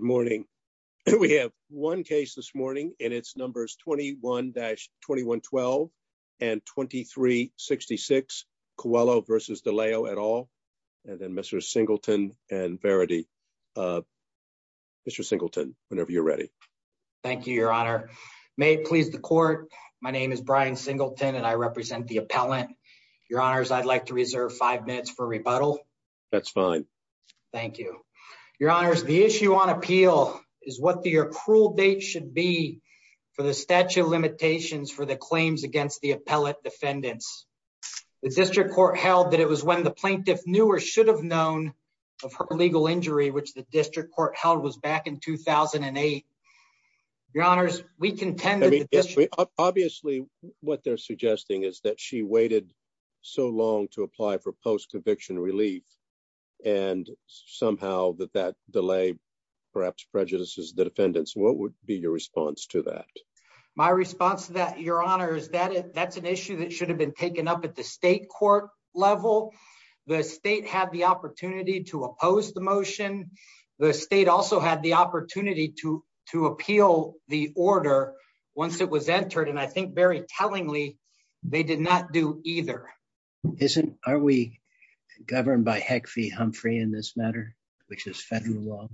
Mr. Singleton, whenever you're ready. Thank you, your honor. May it please the court, my name is Brian Singleton and I represent the appellant. Your honors, I'd like to reserve five minutes for rebuttal. That's fine. Thank you, your honors. The issue on appeal is what the accrual date should be for the statute of limitations for the claims against the appellate defendants. The district court held that it was when the plaintiff knew or should have known of her legal injury, which the district court held was back in 2008. Your honors, we contend that obviously what they're suggesting is that she waited so long to apply for post-conviction relief and somehow that that delay perhaps prejudices the defendants. What would be your response to that? My response to that, your honor, is that that's an issue that should have been taken up at the state court level. The state had the opportunity to oppose the motion. The state also had the opportunity to appeal the order once it was entered. And I think very tellingly, they did not do either. Are we governed by Heck v. Humphrey in this matter, which is federal law?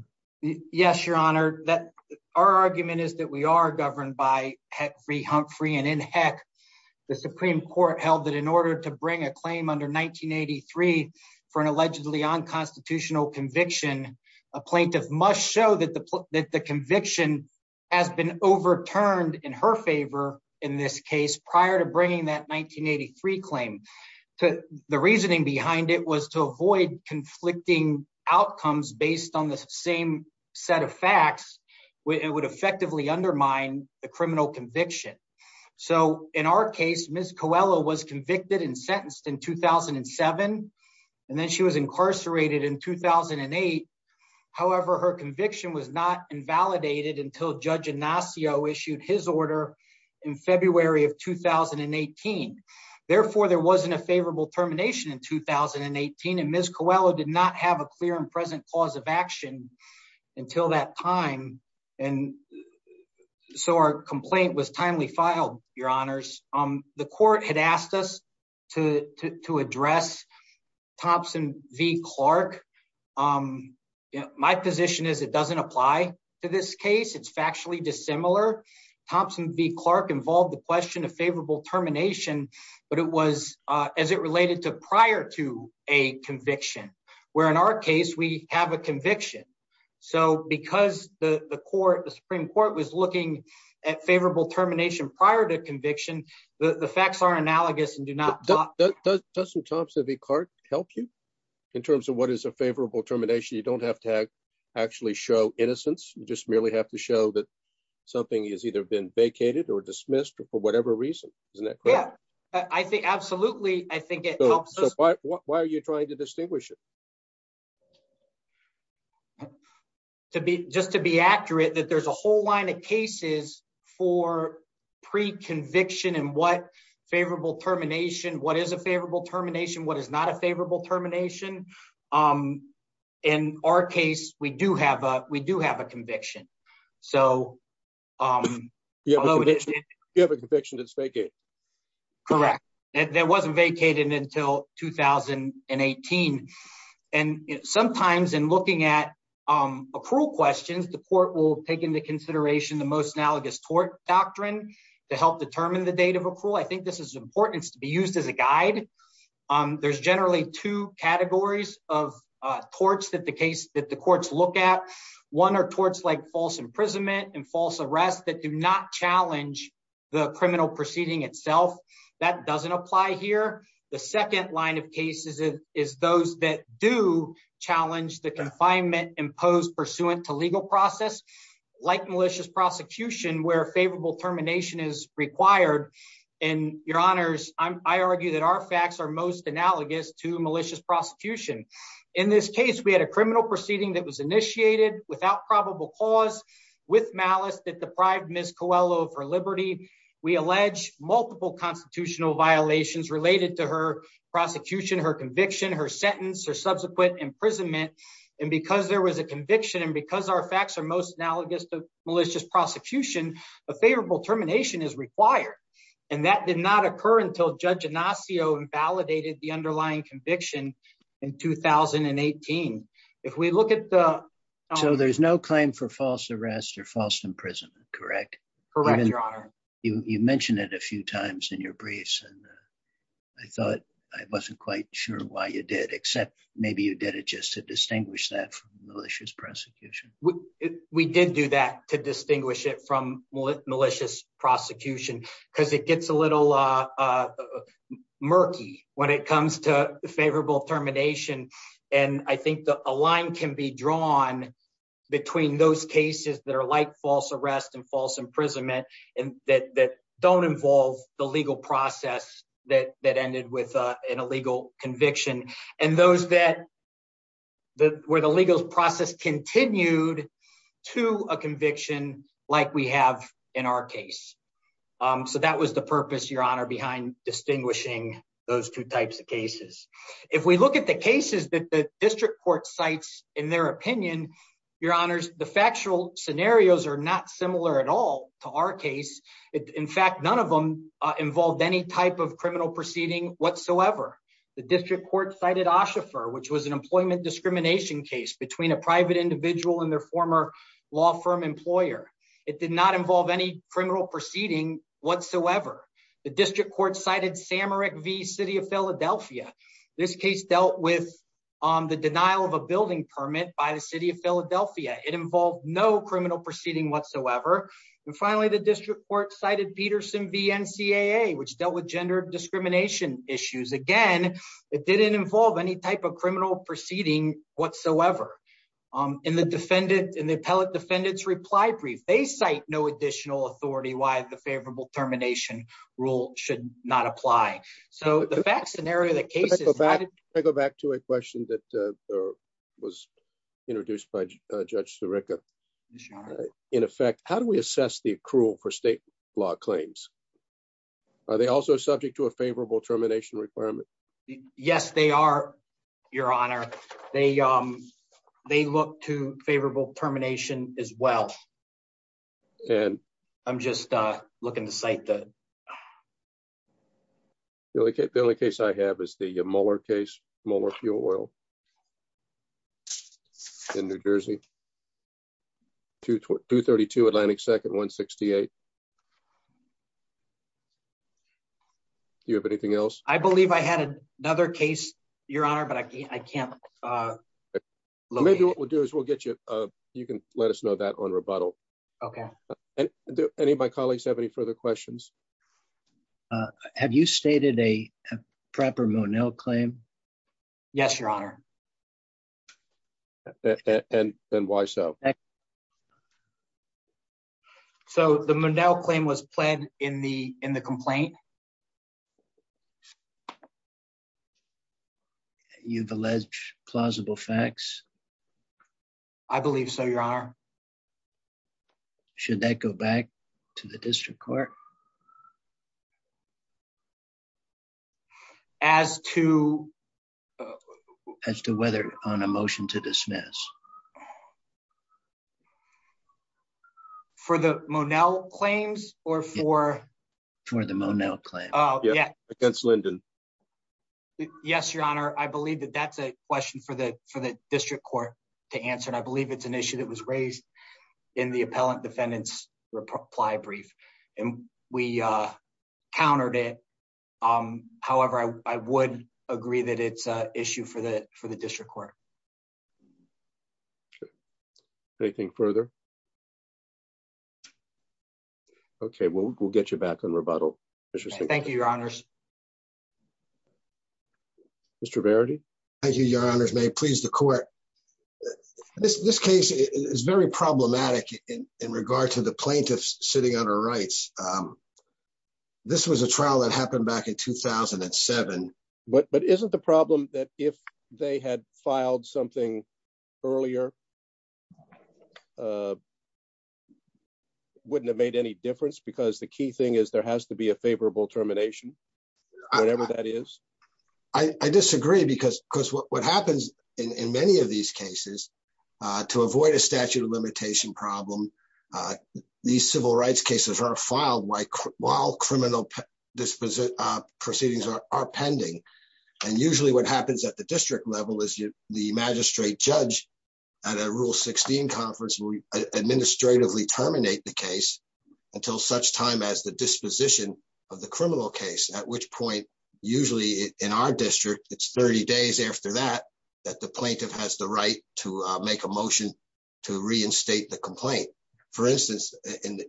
Yes, your honor. Our argument is that we are governed by Heck v. Humphrey. And in Heck, the Supreme Court held that in order to bring a claim under 1983 for an allegedly unconstitutional conviction, a plaintiff must show that the conviction has been overturned in her favor in this case prior to bringing that 1983 claim. The reasoning behind it was to avoid conflicting outcomes based on the same set of facts. It would effectively undermine the criminal conviction. So in our case, Ms. Coelho was convicted and sentenced in 2007, and then she was incarcerated in 2008. However, her conviction was not invalidated until Judge Ignacio issued his order in February of 2018. Therefore, there wasn't a favorable termination in 2018. And Ms. Coelho did not have a clear and present cause of action until that time. And so our complaint was timely filed, your honors. The court had asked us to address Thompson v. Clark. My position is it doesn't apply to this case. It's factually dissimilar. Thompson v. Clark involved the question of favorable termination, but it was as it related to prior to a conviction, where in our case, we have a conviction. So because the court, the Supreme Court was looking at favorable termination prior to conviction, the facts are analogous and do not... Does Thompson v. Clark help you in terms of what is a favorable termination? You don't have to actually show innocence. You just merely have to show that something has either been vacated or dismissed or for whatever reason, isn't that correct? Yeah, I think absolutely. I think it helps us... So why are you trying to distinguish it? Just to be accurate that there's a whole line of cases for pre-conviction and what termination, what is a favorable termination, what is not a favorable termination. In our case, we do have a conviction. So... You have a conviction that's vacated. Correct. That wasn't vacated until 2018. And sometimes in looking at accrual questions, the court will take into consideration the most analogous tort doctrine to help determine the date of accrual. I think this is important to be used as a guide. There's generally two categories of torts that the courts look at. One are torts like false imprisonment and false arrest that do not challenge the criminal proceeding itself. That doesn't apply here. The second line of cases is those that do challenge the confinement imposed pursuant to legal process, like malicious prosecution where favorable termination is required. And your honors, I argue that our facts are most analogous to malicious prosecution. In this case, we had a criminal proceeding that was initiated without probable cause, with malice that deprived Ms. Coelho of her liberty. We allege multiple constitutional violations related to her prosecution, her conviction, her sentence, her subsequent imprisonment. And because there was a conviction, and because our facts are most analogous to malicious prosecution, a favorable termination is required. And that did not occur until Judge Ignacio invalidated the underlying conviction in 2018. If we look at the- So there's no claim for false arrest or false imprisonment, correct? Correct, your honor. You mentioned it a few times in your briefs. And I thought I wasn't quite sure why you did, except maybe you did it just to distinguish that from malicious prosecution. We did do that to distinguish it from malicious prosecution because it gets a little murky when it comes to favorable termination. And I think a line can be drawn between those cases that are like false arrest and false imprisonment that don't involve the legal process that ended with an illegal conviction, and those where the legal process continued to a conviction like we have in our case. So that was the purpose, your honor, behind distinguishing those two types of cases. If we look at the cases that the district court cites in their opinion, your honors, the factual scenarios are not similar at all to our case. In fact, none of them involved any type of criminal proceeding whatsoever. The district court cited Oshifer, which was an employment discrimination case between a private individual and their former law firm employer. It did not involve any criminal proceeding whatsoever. The district court cited Samaric v. City of Philadelphia. This case dealt with the denial of a building permit by the city of Philadelphia. It involved no criminal proceeding whatsoever. And finally, the district court cited Peterson v. NCAA, which dealt with gender discrimination issues. Again, it didn't involve any type of criminal proceeding whatsoever. In the defendant, in the appellate defendant's reply brief, they cite no additional authority why the favorable termination rule should not apply. So the facts and area of the cases- Introduced by Judge Sirica. In effect, how do we assess the accrual for state law claims? Are they also subject to a favorable termination requirement? Yes, they are, your honor. They look to favorable termination as well. And I'm just looking to cite the- The only case I have is the Mueller case, Mueller fuel oil. In New Jersey, 232 Atlantic Second, 168. Do you have anything else? I believe I had another case, your honor, but I can't- Maybe what we'll do is we'll get you, you can let us know that on rebuttal. Okay. And do any of my colleagues have any further questions? Have you stated a proper Monell claim? Yes, your honor. And why so? So the Monell claim was pled in the complaint. You've alleged plausible facts? I believe so, your honor. Should that go back to the district court? As to- As to whether on a motion to dismiss. For the Monell claims or for- For the Monell claim. Oh, yeah. Against Linden. Yes, your honor. I believe that that's a question for the district court to answer. And I believe it's an issue that was raised in the appellant defendants reply brief. And we countered it. However, I would agree that it's an issue for the district court. Anything further? Okay, we'll get you back on rebuttal. Thank you, your honors. Mr. Verity. Thank you, your honors. May it please the court. This case is very problematic in regard to the plaintiffs sitting under rights. This was a trial that happened back in 2007. But isn't the problem that if they had filed something earlier, wouldn't have made any difference? Because the key thing is there has to be a favorable termination, whatever that is. I disagree because what happens in many of these cases, to avoid a statute of limitation problem, these civil rights cases are filed while criminal proceedings are pending. And usually what happens at the district level is the magistrate judge at a rule 16 conference will administratively terminate the case until such time as the disposition of the criminal case, at which point, usually in our district, it's 30 days after that, that the plaintiff has the right to make a motion to reinstate the complaint. For instance, in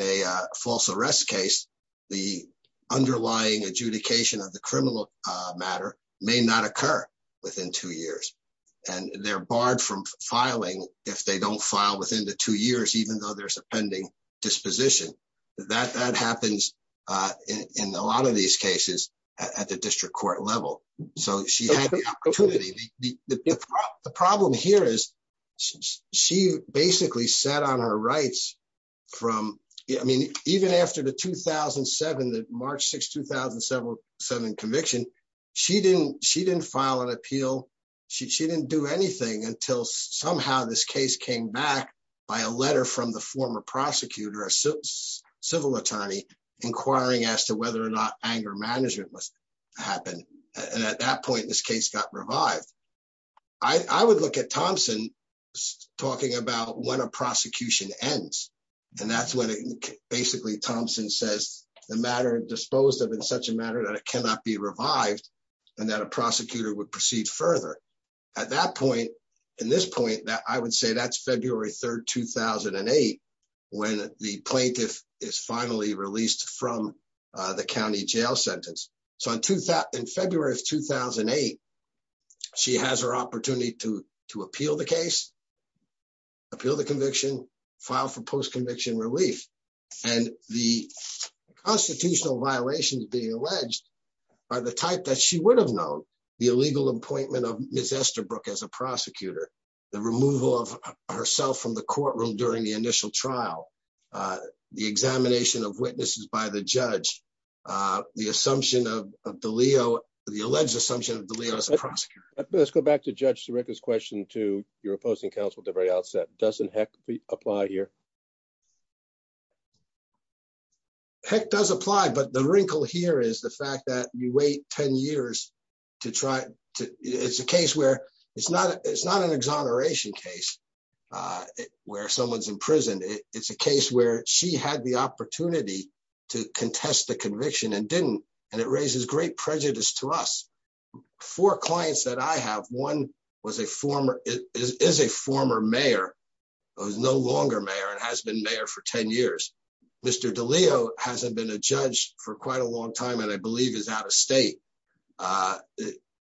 a false arrest case, the underlying adjudication of the criminal matter may not occur within two years. And they're barred from filing if they don't file within the two years, even though there's a pending disposition. That happens in a lot of these cases at the district court level. So she had the opportunity. The problem here is she basically set on her rights from, I mean, even after the 2007, the March 6, 2007 conviction, she didn't file an appeal. She didn't do anything until somehow this case came back by a letter from the former prosecutor, a civil attorney, inquiring as to whether or not anger management must happen. And at that point, this case got revived. I would look at Thompson talking about when a prosecution ends. And that's when basically Thompson says, the matter disposed of in such a matter that it cannot be revived and that a prosecutor would proceed further. At that point, in this point, I would say that's February 3, 2008, when the plaintiff is finally released from the county jail sentence. So in February of 2008, she has her opportunity to appeal the case, appeal the conviction, file for post-conviction relief. And the constitutional violations being alleged are the type that she would have known. The illegal appointment of Ms. Esterbrook as a prosecutor, the removal of herself from the courtroom during the initial trial, the examination of witnesses by the judge, the assumption of DeLeo, the alleged assumption of DeLeo as a prosecutor. Let's go back to Judge Sirica's question to your opposing counsel at the very outset. Doesn't heck apply here? Heck does apply. But the wrinkle here is the fact that you wait 10 years to try. It's a case where it's not an exoneration case where someone's in prison. It's a case where she had the opportunity to contest the conviction and didn't. And it raises great prejudice to us. Four clients that I have, one is a former mayor, who is no longer mayor and has been mayor for 10 years. Mr. DeLeo hasn't been a judge for quite a long time and I believe is out of state.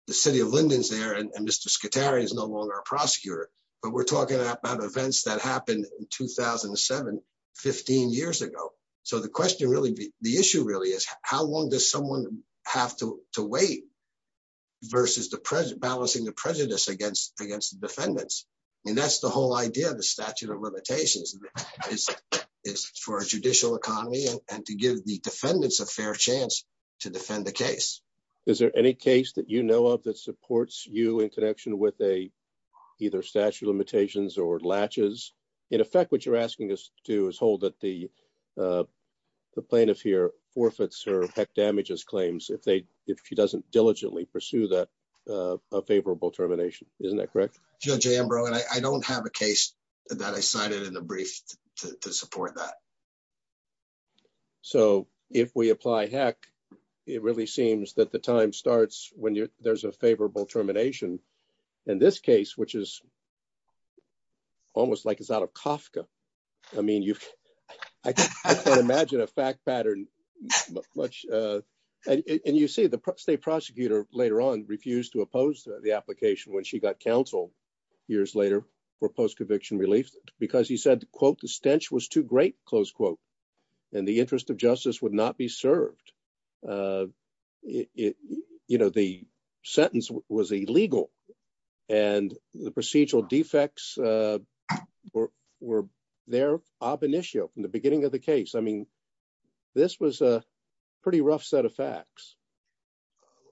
The city of Linden's there and Mr. Scatari is no longer a prosecutor. But we're talking about events that happened in 2007, 15 years ago. So the question really, the issue really is, how long does someone have to wait versus balancing the prejudice against the defendants? And that's the whole idea of the statute of limitations is for a judicial economy and to give the defendants a fair chance to defend the case. Is there any case that you know of that supports you in connection with a either statute of limitations or latches? In effect, what you're asking us to do is hold that the plaintiff here forfeits her heck damages claims if she doesn't diligently pursue that favorable termination. Isn't that correct? Judge Ambrose, I don't have a case that I cited in the brief to support that. So if we apply heck, it really seems that the time starts when there's a favorable termination. In this case, which is almost like it's out of Kafka. I mean, I can't imagine a fact pattern much. And you see the state prosecutor later on refused to oppose the application when she got counsel years later for post-conviction relief because he said, quote, the stench was too great, close quote, and the interest of justice would not be served. You know, the sentence was illegal and the procedural defects were there ab initio from the beginning of the case.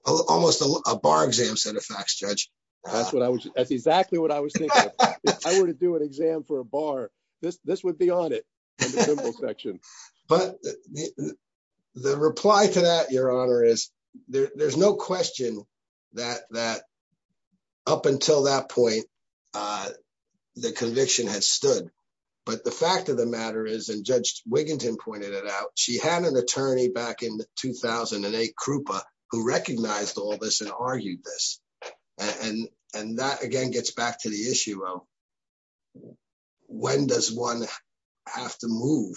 Almost a bar exam set of facts, Judge. That's exactly what I was thinking. If I were to do an exam for a bar, this would be on it in the symbol section. But the reply to that, Your Honor, is there's no question that up until that point, the conviction had stood. But the fact of the matter is, and Judge Wiginton pointed it out, she had an attorney back in 2008, Krupa, who recognized all this and argued this. And that, again, gets back to the issue of when does one have to move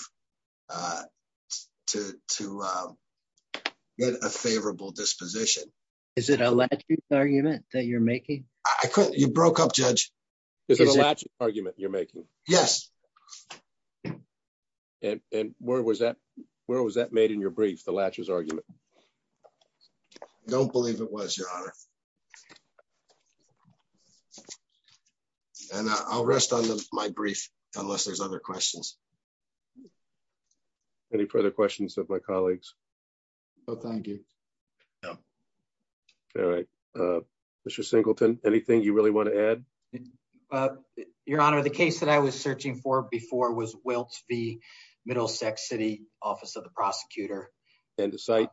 to get a favorable disposition? Is it a logic argument that you're making? I couldn't. You broke up, Judge. Is it a logic argument you're making? Yes. And where was that made in your brief, the latches argument? Don't believe it was, Your Honor. And I'll rest on my brief unless there's other questions. Any further questions of my colleagues? No, thank you. No. All right. Mr. Singleton, anything you really want to add? Well, Your Honor, the case that I was searching for before was Wiltz v. Middlesex City, Office of the Prosecutor. And the site?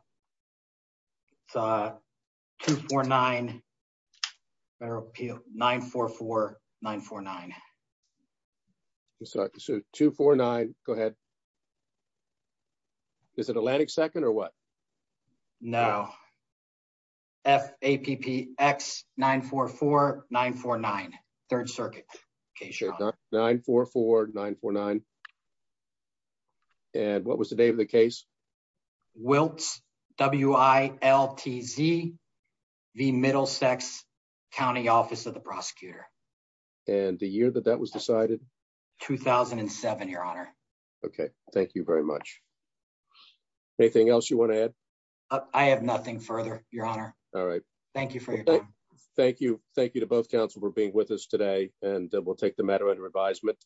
It's 249, Federal Appeal 944-949. Sorry, 249, go ahead. Is it Atlantic Second or what? No. FAPPX 944-949. Third Circuit case, Your Honor. 944-949. And what was the date of the case? Wiltz, W-I-L-T-Z v. Middlesex County, Office of the Prosecutor. And the year that that was decided? 2007, Your Honor. Okay, thank you very much. Anything else you want to add? I have nothing further, Your Honor. All right. Thank you for your time. Thank you. Thank you to both counsel for being with us today. And we'll take the matter under advisement.